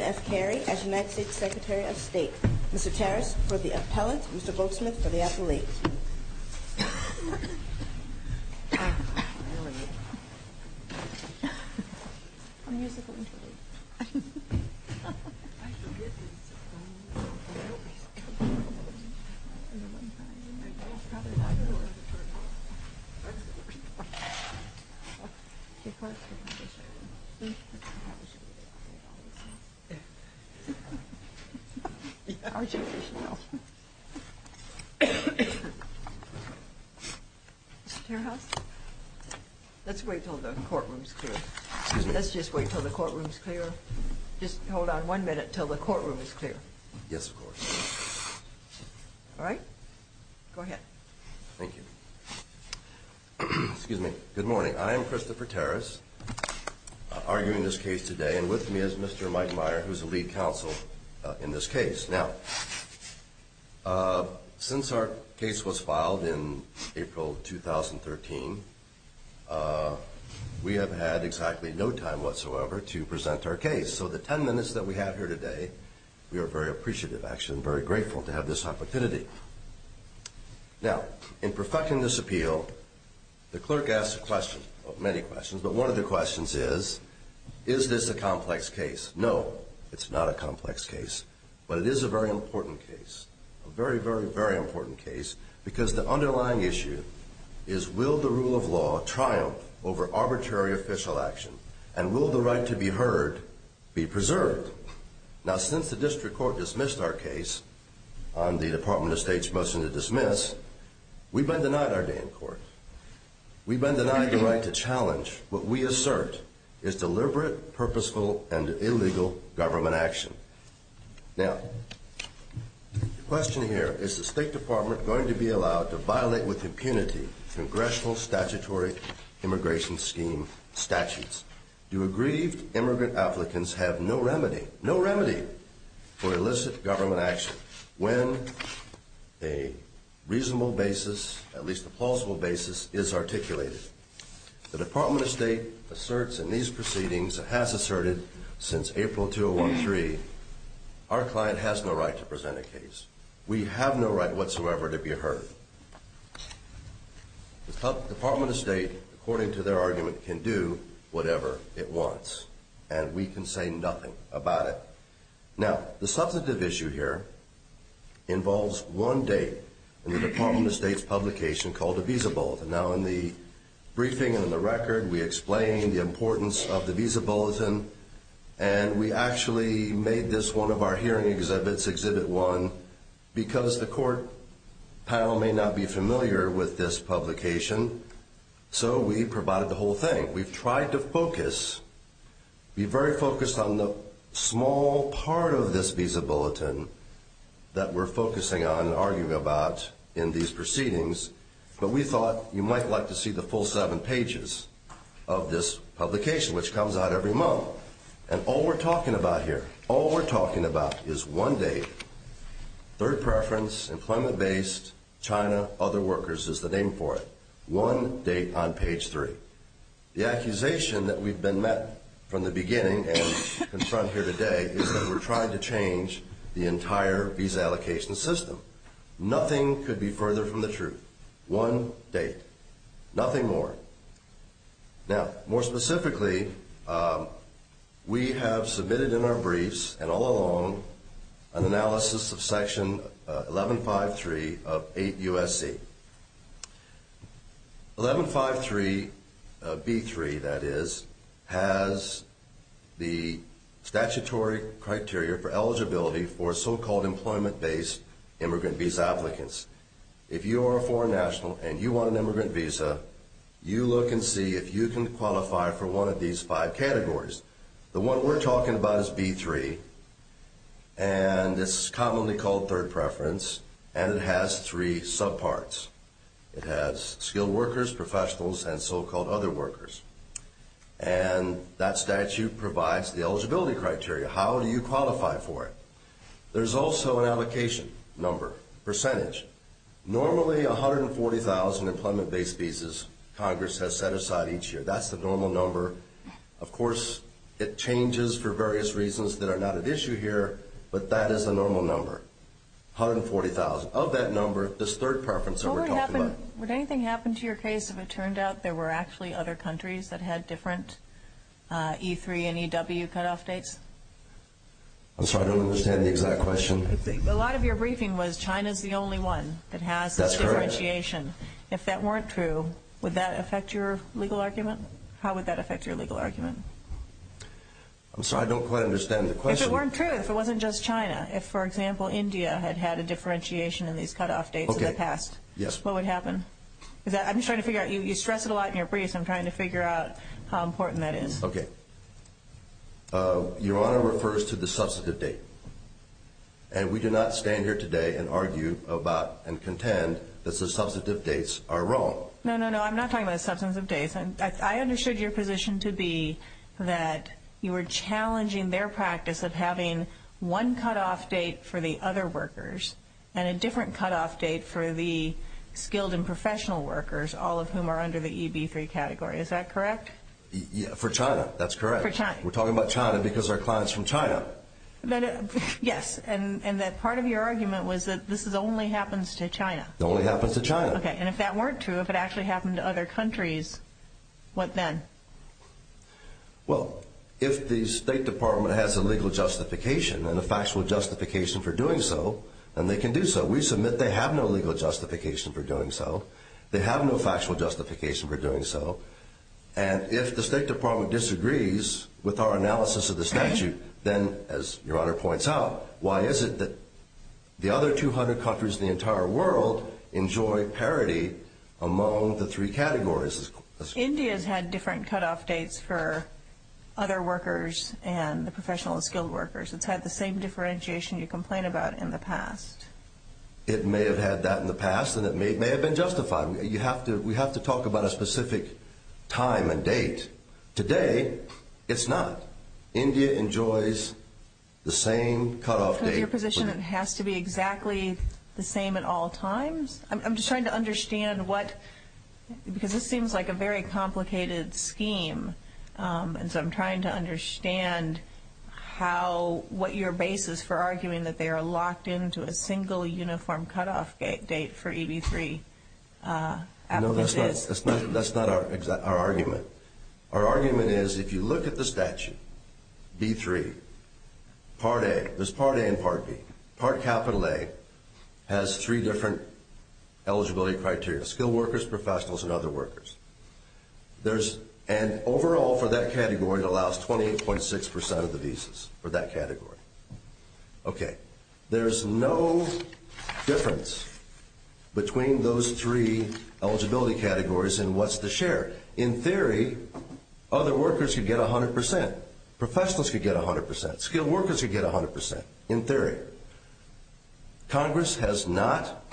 as United States Secretary of State Mr. Tarras for the appellant Mr. Goldsmith for the appellate Mr. Tarras, let's wait until the courtroom is clear. Let's just wait until the courtroom is clear. Just hold on one minute until the courtroom is clear. Yes, of course. All right. Go ahead. Thank you. Excuse me. Good morning. I am Christopher Tarras, arguing this case today and with me is Mr. Mike Meyer, who is the lead counsel in this case. Now, since our case was filed in April 2013, we have had exactly no time whatsoever to present our case. So the ten minutes that we have here today, we are very appreciative, actually, and very grateful to have this opportunity. Now, in perfecting this appeal, the clerk asked a question, many questions, but one of the questions is, is this a complex case? No, it's not a complex case, but it is a very important case. A very, very, very important case because the underlying issue is will the rule of law triumph over arbitrary official action and will the right to be heard be preserved? Now, since the district court dismissed our case on the Department of State's motion to dismiss, we've been denied our day in court. We've been denied the right to challenge what we assert is deliberate, purposeful, and illegal government action. Now, the question here, is the State Department going to be allowed to violate with impunity congressional statutory immigration scheme statutes? Do aggrieved immigrant applicants have no remedy, no remedy, for illicit government action when a reasonable basis, at least a plausible basis, is articulated? The Department of State asserts in these proceedings, and has asserted since April 2013, our client has no right to present a case. We have no right whatsoever to be heard. The Department of State, according to their argument, can do whatever it wants, and we can say nothing about it. Now, the substantive issue here involves one date in the Department of State's publication called the Visa Bulletin. Now, in the briefing and in the record, we explain the importance of the Visa Bulletin, and we actually made this one of our hearing exhibits, Exhibit 1, because the court panel may not be familiar with this publication, so we provided the whole thing. We've tried to focus, be very focused on the small part of this Visa Bulletin that we're focusing on and arguing about in these proceedings, but we thought you might like to see the full seven pages of this publication, which comes out every month. And all we're talking about here, all we're talking about is one date. Third preference, employment-based, China, other workers is the name for it. One date on page three. The accusation that we've been met from the beginning and confront here today is that we're trying to change the entire visa allocation system. Nothing could be further from the truth. One date. Nothing more. Now, more specifically, we have submitted in our briefs and all along an analysis of Section 1153 of 8 U.S.C. 1153, B3 that is, has the statutory criteria for eligibility for so-called employment-based immigrant visa applicants. If you are a foreign national and you want an immigrant visa, you look and see if you can qualify for one of these five categories. The one we're talking about is B3, and it's commonly called third preference, and it has three subparts. It has skilled workers, professionals, and so-called other workers. And that statute provides the eligibility criteria. How do you qualify for it? There's also an allocation number, percentage. Normally, 140,000 employment-based visas Congress has set aside each year. That's the normal number. Of course, it changes for various reasons that are not at issue here, but that is the normal number, 140,000. Of that number, this third preference that we're talking about. Would anything happen to your case if it turned out there were actually other countries that had different E3 and EW cutoff dates? I'm sorry, I don't understand the exact question. A lot of your briefing was China's the only one that has this differentiation. If that weren't true, would that affect your legal argument? How would that affect your legal argument? I'm sorry, I don't quite understand the question. If it weren't true, if it wasn't just China, if, for example, India had had a differentiation in these cutoff dates in the past, what would happen? I'm just trying to figure out. You stress it a lot in your briefs, and I'm trying to figure out how important that is. Okay. Your Honor refers to the substantive date, and we do not stand here today and argue about and contend that the substantive dates are wrong. No, no, no, I'm not talking about substantive dates. I understood your position to be that you were challenging their practice of having one cutoff date for the other workers and a different cutoff date for the skilled and professional workers, all of whom are under the EB3 category. Is that correct? For China, that's correct. For China. We're talking about China because our client's from China. Yes, and that part of your argument was that this only happens to China. It only happens to China. Okay, and if that weren't true, if it actually happened to other countries, what then? Well, if the State Department has a legal justification and a factual justification for doing so, then they can do so. We submit they have no legal justification for doing so. They have no factual justification for doing so. And if the State Department disagrees with our analysis of the statute, then, as Your Honor points out, why is it that the other 200 countries in the entire world enjoy parity among the three categories? India's had different cutoff dates for other workers and the professional and skilled workers. It's had the same differentiation you complain about in the past. It may have had that in the past, and it may have been justified. We have to talk about a specific time and date. Today, it's not. India enjoys the same cutoff date. Your position has to be exactly the same at all times? I'm just trying to understand what – because this seems like a very complicated scheme, and so I'm trying to understand how – what your basis for arguing that they are locked into a single, uniform cutoff date for EB-3 applicants is. No, that's not our argument. Our argument is if you look at the statute, B-3, Part A – there's Part A and Part B – Part A has three different eligibility criteria, skilled workers, professionals, and other workers. There's – and overall for that category, it allows 28.6 percent of the visas for that category. Okay. There's no difference between those three eligibility categories in what's the share. In theory, other workers could get 100 percent. Professionals could get 100 percent. Skilled workers could get 100 percent, in theory. Congress has not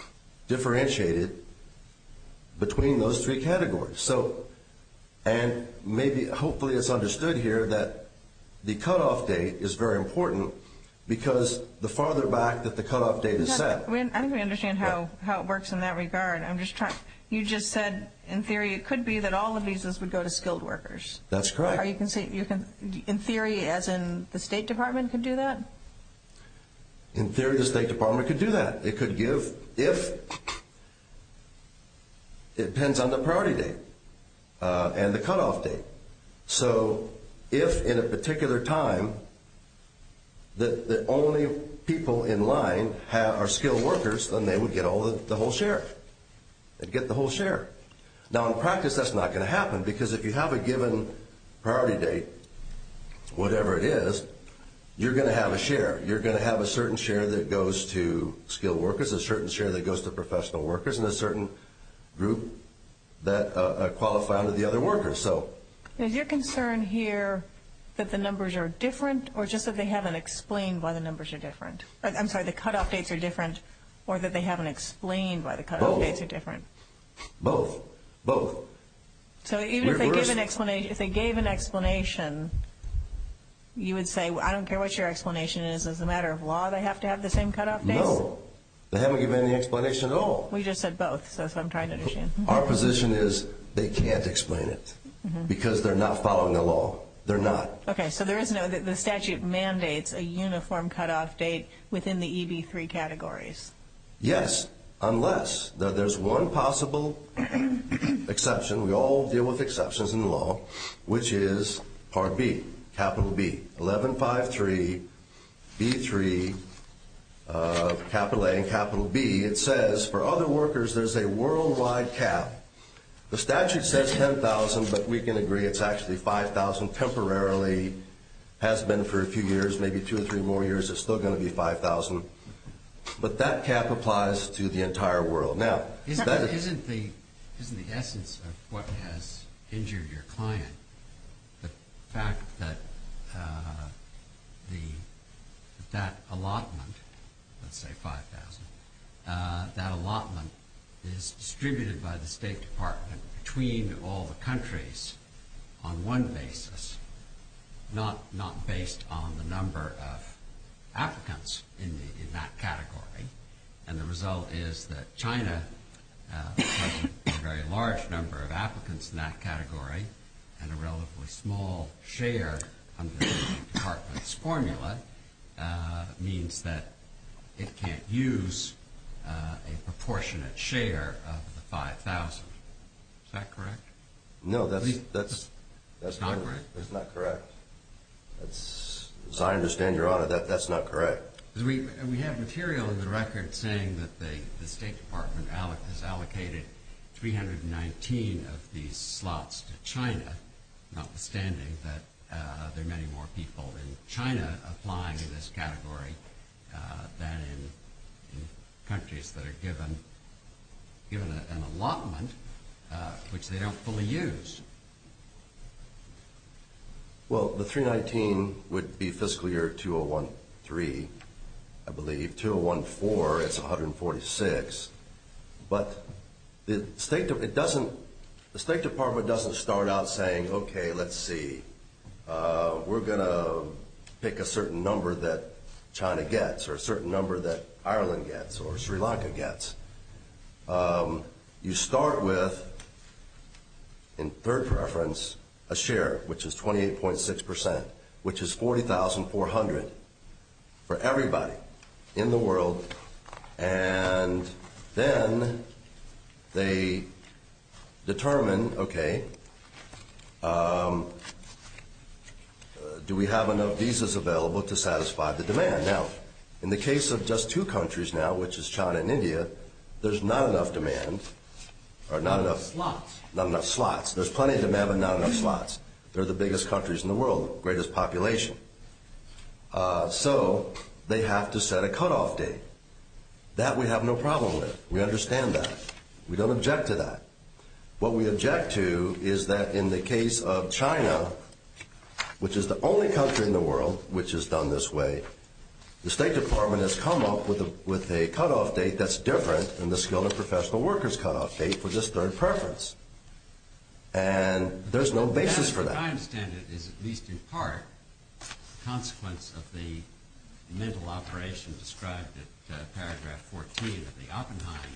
differentiated between those three categories. So – and maybe – hopefully it's understood here that the cutoff date is very important because the farther back that the cutoff date is set – I think we understand how it works in that regard. I'm just trying – you just said in theory it could be that all the visas would go to skilled workers. That's correct. In theory, as in the State Department could do that? In theory, the State Department could do that. It could give – if – it depends on the priority date and the cutoff date. So if in a particular time the only people in line are skilled workers, then they would get the whole share. They'd get the whole share. Now, in practice, that's not going to happen because if you have a given priority date, whatever it is, you're going to have a share. You're going to have a certain share that goes to skilled workers, a certain share that goes to professional workers, and a certain group that qualify under the other workers. So – Is your concern here that the numbers are different or just that they haven't explained why the numbers are different? I'm sorry, the cutoff dates are different or that they haven't explained why the cutoff dates are different? Both. Both. Both. So even if they gave an explanation, you would say, I don't care what your explanation is, as a matter of law, they have to have the same cutoff dates? No. They haven't given any explanation at all. We just said both, so that's what I'm trying to understand. Our position is they can't explain it because they're not following the law. They're not. Okay, so there is no – the statute mandates a uniform cutoff date within the EB-3 categories. Yes, unless there's one possible exception. We all deal with exceptions in law, which is Part B, Capital B. 11-5-3, B-3, Capital A and Capital B, it says for other workers there's a worldwide cap. The statute says $10,000, but we can agree it's actually $5,000. Temporarily has been for a few years, maybe two or three more years, it's still going to be $5,000. But that cap applies to the entire world. Now, isn't the essence of what has injured your client the fact that that allotment, let's say $5,000, that allotment is distributed by the State Department between all the countries on one basis, not based on the number of applicants in that category? And the result is that China has a very large number of applicants in that category and a relatively small share under the State Department's formula means that it can't use a proportionate share of the $5,000. Is that correct? No, that's not correct. As I understand, Your Honor, that's not correct. We have material in the record saying that the State Department has allocated 319 of these slots to China, notwithstanding that there are many more people in China applying in this category than in countries that are given an allotment which they don't fully use. Well, the 319 would be fiscal year 2013, I believe. 2014, it's 146. But the State Department doesn't start out saying, okay, let's see. We're going to pick a certain number that China gets or a certain number that Ireland gets or Sri Lanka gets. You start with, in third preference, a share, which is 28.6%, which is $40,400 for everybody in the world. And then they determine, okay, do we have enough visas available to satisfy the demand? Now, in the case of just two countries now, which is China and India, there's not enough demand or not enough slots. There's plenty of demand but not enough slots. They're the biggest countries in the world, greatest population. So they have to set a cutoff date. That we have no problem with. We understand that. We don't object to that. What we object to is that in the case of China, which is the only country in the world which has done this way, the State Department has come up with a cutoff date that's different than the skilled and professional workers cutoff date for this third preference. And there's no basis for that. What I understand is, at least in part, consequence of the mental operation described in paragraph 14 of the Oppenheim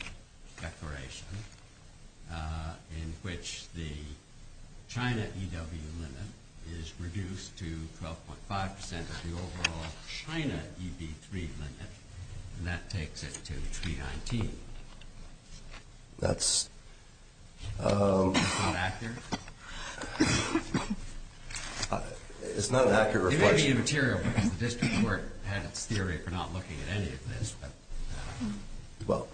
Declaration, in which the China EW limit is reduced to 12.5% of the overall China EB3 limit. And that takes it to 319. That's… Is that accurate? It's not an accurate reflection. It may be immaterial because the district court had its theory for not looking at any of this. Well,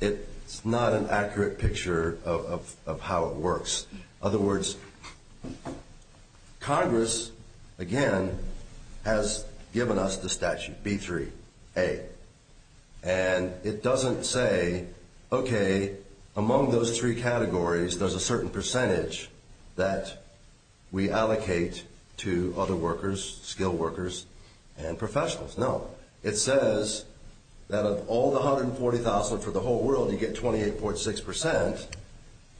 it's not an accurate picture of how it works. In other words, Congress, again, has given us the statute, B3A. And it doesn't say, okay, among those three categories, there's a certain percentage that we allocate to other workers, skilled workers, and professionals. No. It says that of all the 140,000 for the whole world, you get 28.6%.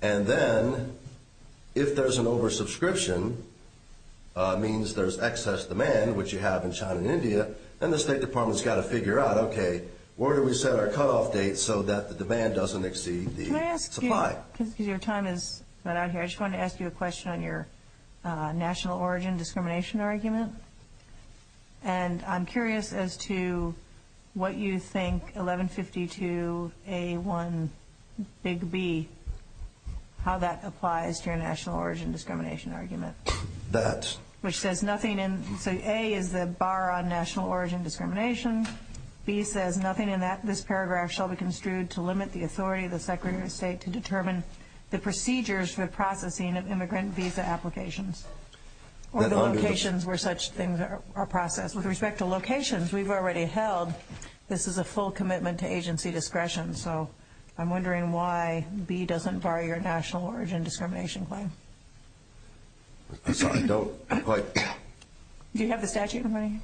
And then, if there's an oversubscription, means there's excess demand, which you have in China and India, then the State Department's got to figure out, okay, where do we set our cutoff date so that the demand doesn't exceed the supply? Can I ask you, because your time has run out here, I just wanted to ask you a question on your national origin discrimination argument. And I'm curious as to what you think 1152A1B, how that applies to your national origin discrimination argument. That… Which says nothing in… So A is the bar on national origin discrimination. B says nothing in this paragraph shall be construed to limit the authority of the Secretary of State to determine the procedures for processing of immigrant visa applications. Or the locations where such things are processed. With respect to locations, we've already held this is a full commitment to agency discretion. So I'm wondering why B doesn't bar your national origin discrimination claim. I'm sorry, I don't quite… Do you have the statute in front of you?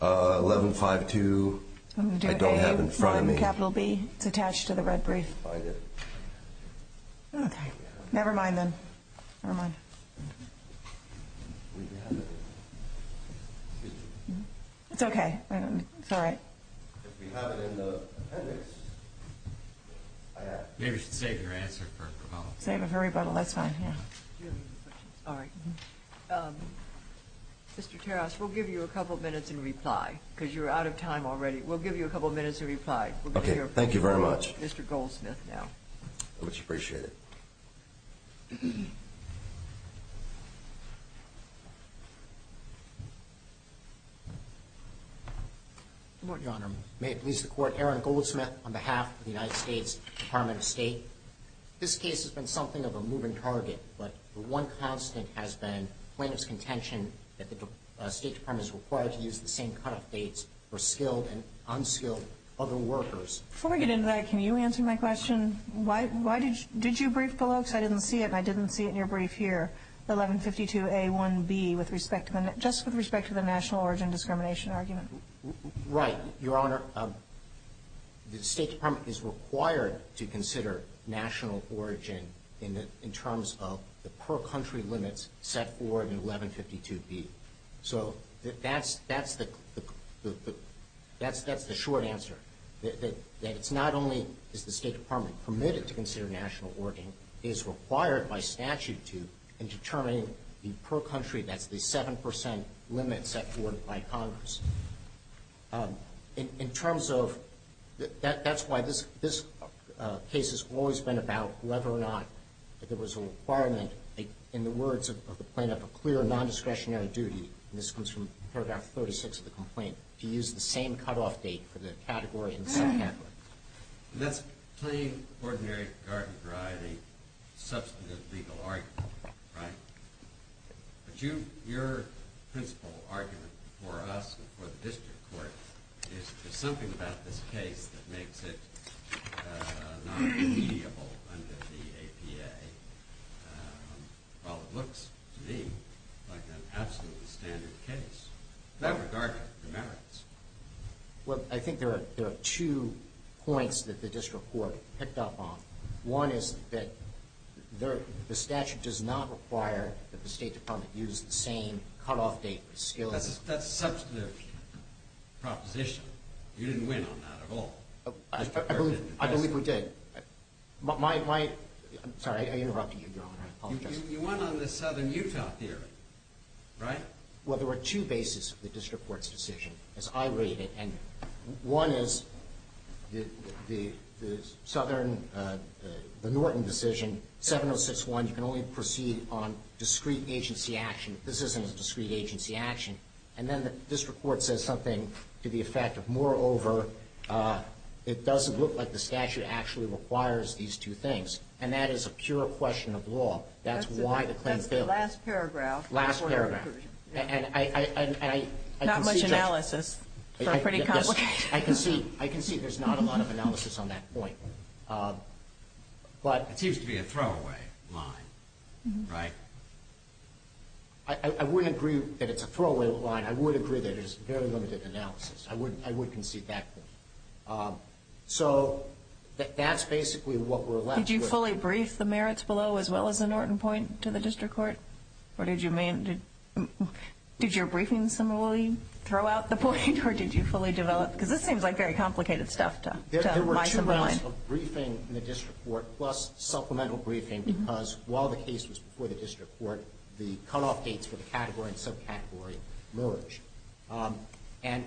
1152, I don't have it in front of me. I'm going to do A, you write capital B, it's attached to the red brief. I didn't find it. Okay. Never mind then. Never mind. It's okay. It's all right. If we have it in the appendix, maybe we should save your answer for a promulgation. Save it for rebuttal, that's fine. Mr. Terrass, we'll give you a couple of minutes in reply because you're out of time already. We'll give you a couple of minutes in reply. Okay, thank you very much. Mr. Goldsmith now. I much appreciate it. Your Honor, may it please the Court, Aaron Goldsmith on behalf of the United States Department of State. This case has been something of a moving target, but the one constant has been plaintiff's contention that the State Department is required to use the same cutoff dates for skilled and unskilled other workers. Before we get into that, can you answer my question? Why did you brief below, because I didn't see it and I didn't see it in your brief here, 1152A1B with respect to the national origin discrimination argument? Right, Your Honor. The State Department is required to consider national origin in terms of the per-country limits set forward in 1152B. So that's the short answer, that it's not only is the State Department permitted to consider national origin, it is required by statute to determine the per-country, that's the 7% limit set forward by Congress. In terms of, that's why this case has always been about whether or not there was a requirement, in the words of the plaintiff, a clear non-discretionary duty, and this comes from paragraph 36 of the complaint, to use the same cutoff date for the category and subcategory. And that's plain, ordinary, garden variety, substantive legal argument, right? But your principal argument for us and for the district court is there's something about this case that makes it non-mediable under the APA. While it looks to me like an absolutely standard case, not regardless of the merits. Well, I think there are two points that the district court picked up on. One is that the statute does not require that the State Department use the same cutoff date for skills. That's a substantive proposition. You didn't win on that at all. I believe we did. I'm sorry, I interrupted you, Your Honor. I apologize. You won on the Southern Utah theory, right? Well, there were two bases for the district court's decision, as I rate it. And one is the Southern, the Norton decision, 706.1, you can only proceed on discrete agency action. This isn't a discrete agency action. And then the district court says something to the effect of, moreover, it doesn't look like the statute actually requires these two things. And that is a pure question of law. That's why the claim failed. Last paragraph. Last paragraph. Not much analysis, so pretty complicated. I concede there's not a lot of analysis on that point. It seems to be a throwaway line, right? I wouldn't agree that it's a throwaway line. I would agree that it is very limited analysis. I would concede that. So that's basically what we're left with. Did you fully brief the merits below as well as the Norton point to the district court? What did you mean? Did your briefing similarly throw out the point, or did you fully develop? Because this seems like very complicated stuff to my mind. There were two rounds of briefing in the district court, plus supplemental briefing, because while the case was before the district court, the cutoff dates for the category and subcategory merged. And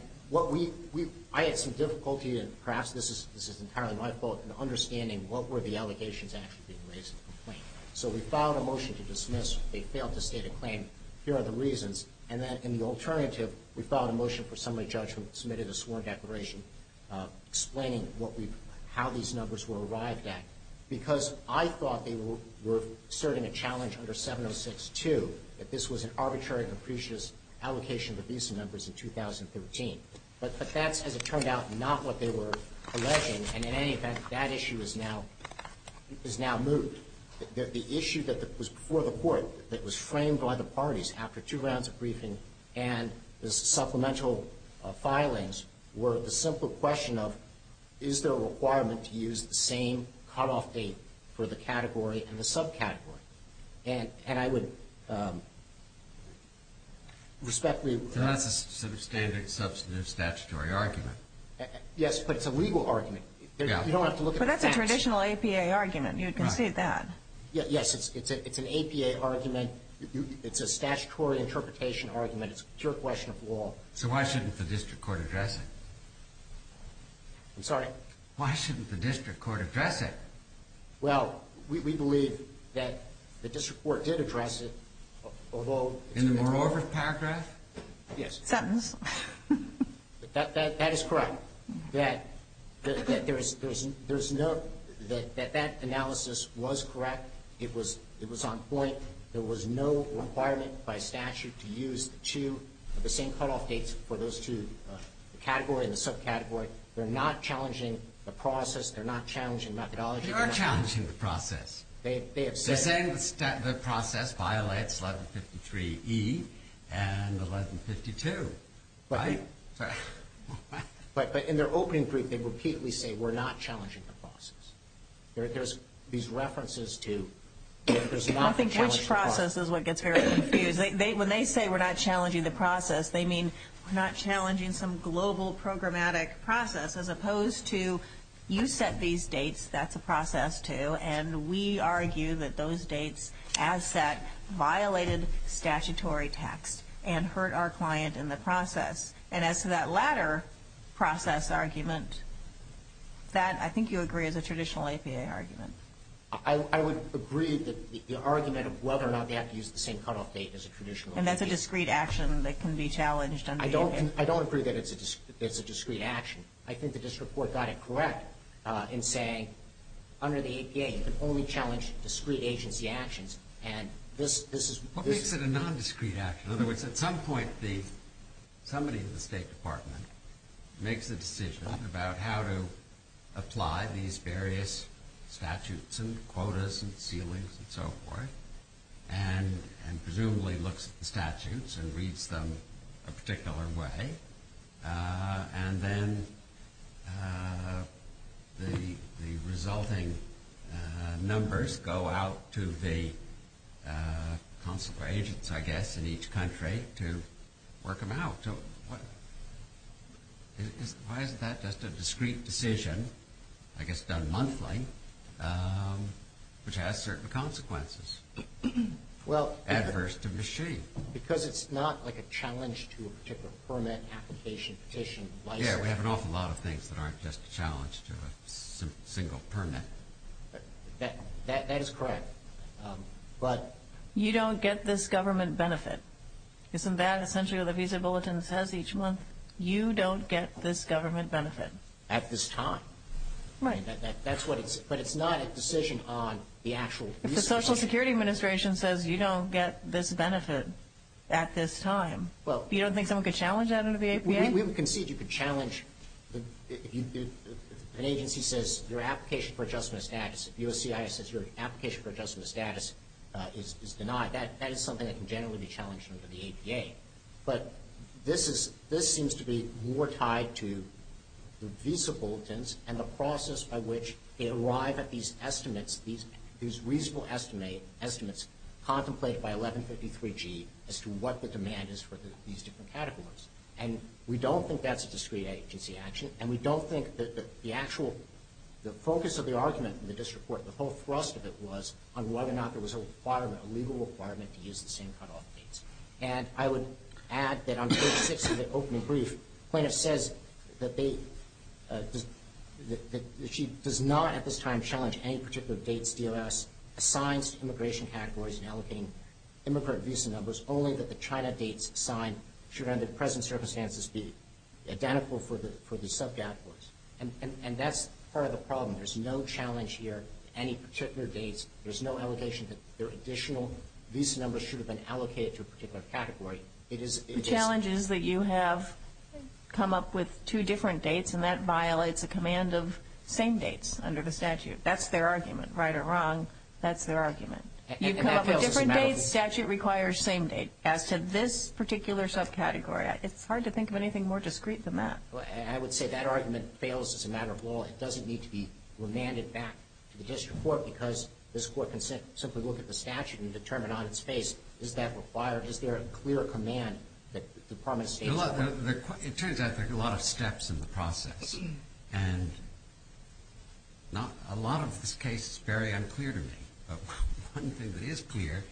I had some difficulty, and perhaps this is entirely my fault, in understanding what were the allegations actually being raised in the complaint. So we filed a motion to dismiss. They failed to state a claim. Here are the reasons. And then in the alternative, we filed a motion for summary judgment, submitted a sworn declaration, explaining how these numbers were arrived at, because I thought they were asserting a challenge under 706-2, that this was an arbitrary and capricious allocation of the visa numbers in 2013. But that's, as it turned out, not what they were alleging. And in any event, that issue is now moved. The issue that was before the court, that was framed by the parties after two rounds of briefing and the supplemental filings, were the simple question of, is there a requirement to use the same cutoff date for the category and the subcategory? And I would respectfully request this. So that's a standard substantive statutory argument. Yes, but it's a legal argument. You don't have to look at the facts. But that's a traditional APA argument. You would concede that. Yes, it's an APA argument. It's a statutory interpretation argument. It's a pure question of law. So why shouldn't the district court address it? I'm sorry? Why shouldn't the district court address it? Well, we believe that the district court did address it, although it's been denied. In the moreover paragraph? Yes. Sentence. That is correct. That there's no – that that analysis was correct. It was on point. There was no requirement by statute to use the two – the same cutoff dates for those two – the category and the subcategory. They're not challenging the process. They're not challenging methodology. They are challenging the process. They have said – And 1152, right? But in their opening brief, they repeatedly say, we're not challenging the process. There's these references to – I think which process is what gets very confused. When they say we're not challenging the process, they mean we're not challenging some global programmatic process, as opposed to you set these dates, that's a process, too. And we argue that those dates, as set, violated statutory text and hurt our client in the process. And as to that latter process argument, that I think you agree is a traditional APA argument. I would agree that the argument of whether or not they have to use the same cutoff date is a traditional APA. And that's a discrete action that can be challenged under APA. I don't agree that it's a discrete action. I think the district court got it correct in saying under the APA, you can only challenge discrete agency actions. And this is – What makes it a nondiscrete action? In other words, at some point, somebody in the State Department makes a decision about how to apply these various statutes and quotas and ceilings and so forth, and presumably looks at the statutes and reads them a particular way. And then the resulting numbers go out to the consular agents, I guess, in each country to work them out. So why isn't that just a discrete decision, I guess done monthly, which has certain consequences, adverse to machine? Because it's not like a challenge to a particular permit application petition. Yeah, we have an awful lot of things that aren't just a challenge to a single permit. That is correct. But you don't get this government benefit. Isn't that essentially what the Visa Bulletin says each month? You don't get this government benefit. At this time. Right. That's what it's – but it's not a decision on the actual visa application. The Security Administration says you don't get this benefit at this time. You don't think someone could challenge that under the APA? We would concede you could challenge – if an agency says your application for adjustment of status, if USCIS says your application for adjustment of status is denied, that is something that can generally be challenged under the APA. But this is – this seems to be more tied to the Visa Bulletins and the process by which they arrive at these estimates, these reasonable estimates contemplated by 1153G, as to what the demand is for these different categories. And we don't think that's a discrete agency action, and we don't think that the actual – the focus of the argument in the district court, the whole thrust of it, was on whether or not there was a requirement, a legal requirement to use the same cutoff dates. And I would add that on page 6 of the opening brief, plaintiff says that they – that she does not at this time challenge any particular dates DOS assigns to immigration categories in allocating immigrant visa numbers, only that the China dates assigned should, under the present circumstances, be identical for the subcategories. And that's part of the problem. There's no challenge here to any particular dates. There's no allegation that additional visa numbers should have been allocated to a particular category. It is – it is – The challenge is that you have come up with two different dates, and that violates a command of same dates under the statute. That's their argument, right or wrong. That's their argument. And that fails as a matter of law. You come up with different dates, statute requires same date. As to this particular subcategory, it's hard to think of anything more discrete than that. I would say that argument fails as a matter of law. It doesn't need to be remanded back to the district court because this court can simply look at the statute and determine on its face, is that required, is there a clear command that the promise dates are correct? It turns out there are a lot of steps in the process. And a lot of this case is very unclear to me. But one thing that is clear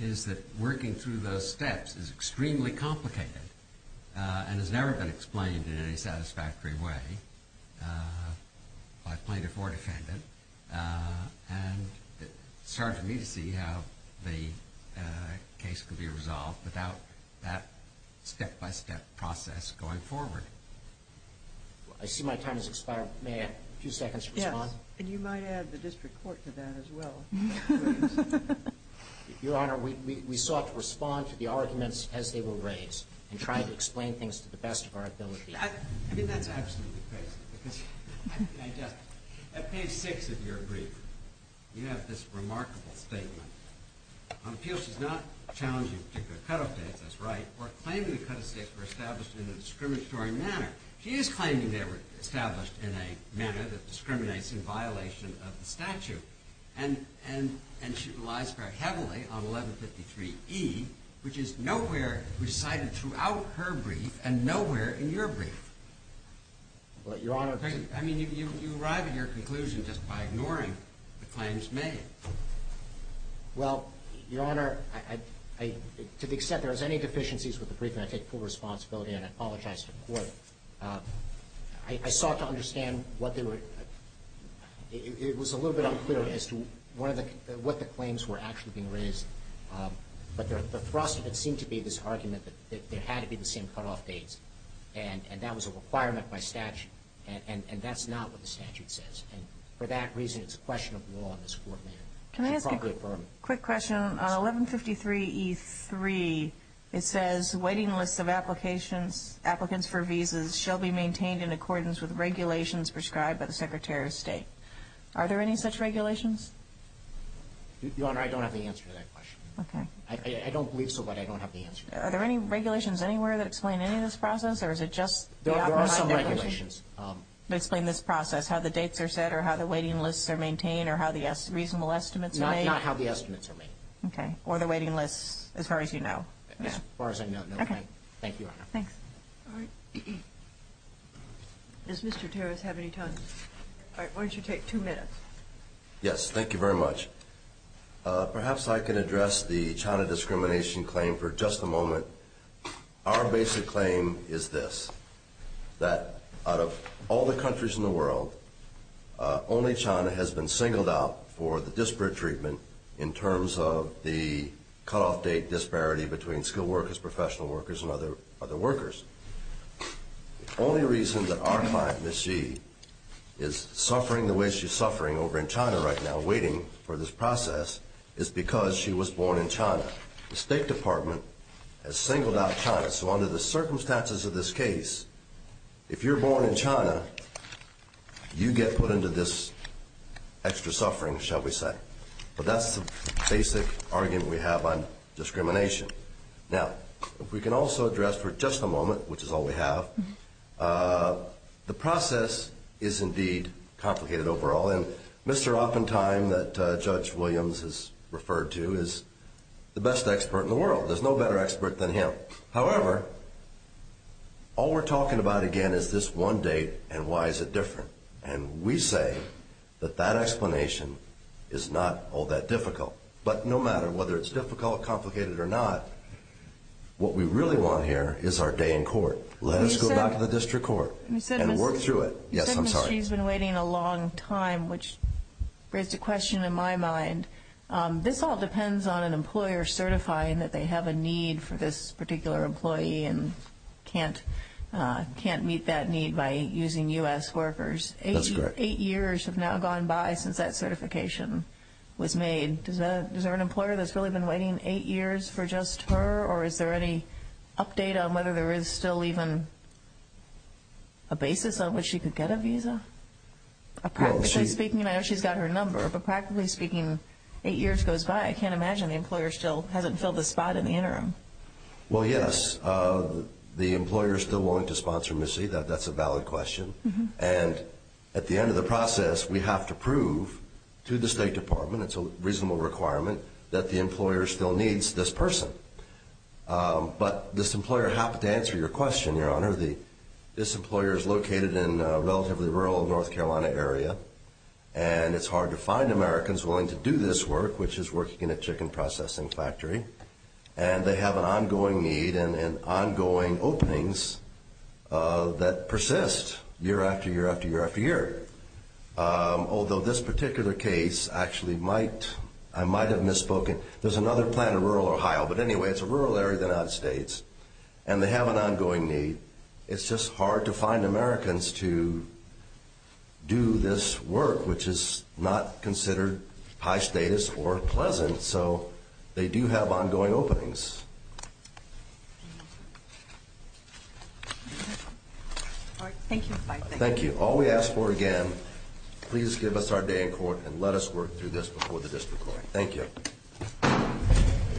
is that working through those steps is extremely complicated and has never been explained in any satisfactory way by plaintiff or defendant. And it's hard for me to see how the case can be resolved without that step-by-step process going forward. I see my time has expired. May I have a few seconds to respond? Yes. And you might add the district court to that as well. Your Honor, we sought to respond to the arguments as they were raised and try to explain things to the best of our ability. I mean, that's absolutely crazy. At page 6 of your brief, you have this remarkable statement. On appeals, she's not challenging particular cutoff dates. That's right. We're claiming the cutoff dates were established in a discriminatory manner. She is claiming they were established in a manner that discriminates in violation of the statute. And she relies very heavily on 1153E, which is nowhere recited throughout her brief and nowhere in your brief. Your Honor. I mean, you arrive at your conclusion just by ignoring the claims made. Well, Your Honor, to the extent there is any deficiencies with the brief, and I take full responsibility and apologize to the Court, I sought to understand what they were – it was a little bit unclear as to what the claims were actually being raised. But the thrust of it seemed to be this argument that there had to be the same cutoff dates, and that was a requirement by statute, and that's not what the statute says. And for that reason, it's a question of law in this Court, ma'am. Can I ask a quick question? On 1153E3, it says, waiting lists of applications, applicants for visas, shall be maintained in accordance with regulations prescribed by the Secretary of State. Are there any such regulations? Your Honor, I don't have the answer to that question. I don't believe so, but I don't have the answer. Are there any regulations anywhere that explain any of this process, or is it just the opposite? There are some regulations. That explain this process, how the dates are set or how the waiting lists are maintained or how the reasonable estimates are made? That's not how the estimates are made. Okay. Or the waiting lists, as far as you know. As far as I know, no. Okay. Thank you, Your Honor. Thanks. All right. Does Mr. Terras have any time? All right, why don't you take two minutes? Yes, thank you very much. Perhaps I can address the China discrimination claim for just a moment. Our basic claim is this, that out of all the countries in the world, only China has been singled out for the disparate treatment in terms of the cutoff date disparity between skilled workers, professional workers, and other workers. The only reason that our client, Ms. Xi, is suffering the way she's suffering over in China right now, waiting for this process, is because she was born in China. The State Department has singled out China. So under the circumstances of this case, if you're born in China, you get put into this extra suffering, shall we say. But that's the basic argument we have on discrimination. Now, if we can also address for just a moment, which is all we have, the process is indeed complicated overall. And Mr. Oppenheim that Judge Williams has referred to is the best expert in the world. There's no better expert than him. However, all we're talking about again is this one date and why is it different. And we say that that explanation is not all that difficult. But no matter whether it's difficult, complicated, or not, what we really want here is our day in court. Let us go back to the district court and work through it. You said Ms. Xi's been waiting a long time, which raised a question in my mind. This all depends on an employer certifying that they have a need for this particular employee and can't meet that need by using U.S. workers. That's correct. Eight years have now gone by since that certification was made. Is there an employer that's really been waiting eight years for just her? Or is there any update on whether there is still even a basis on which she could get a visa? Practically speaking, I know she's got her number, but practically speaking, eight years goes by. I can't imagine the employer still hasn't filled the spot in the interim. Well, yes. The employer is still willing to sponsor Ms. Xi. That's a valid question. And at the end of the process, we have to prove to the State Department, it's a reasonable requirement, that the employer still needs this person. But this employer happens to answer your question, Your Honor. This employer is located in a relatively rural North Carolina area, and it's hard to find Americans willing to do this work, which is working in a chicken processing factory. And they have an ongoing need and ongoing openings that persist year after year after year after year. Although this particular case actually might have misspoken. There's another plan in rural Ohio, but anyway, it's a rural area in the United States, and they have an ongoing need. It's just hard to find Americans to do this work, which is not considered high status or pleasant. So they do have ongoing openings. Thank you. All we ask for, again, please give us our day in court and let us work through this before the district court. Thank you.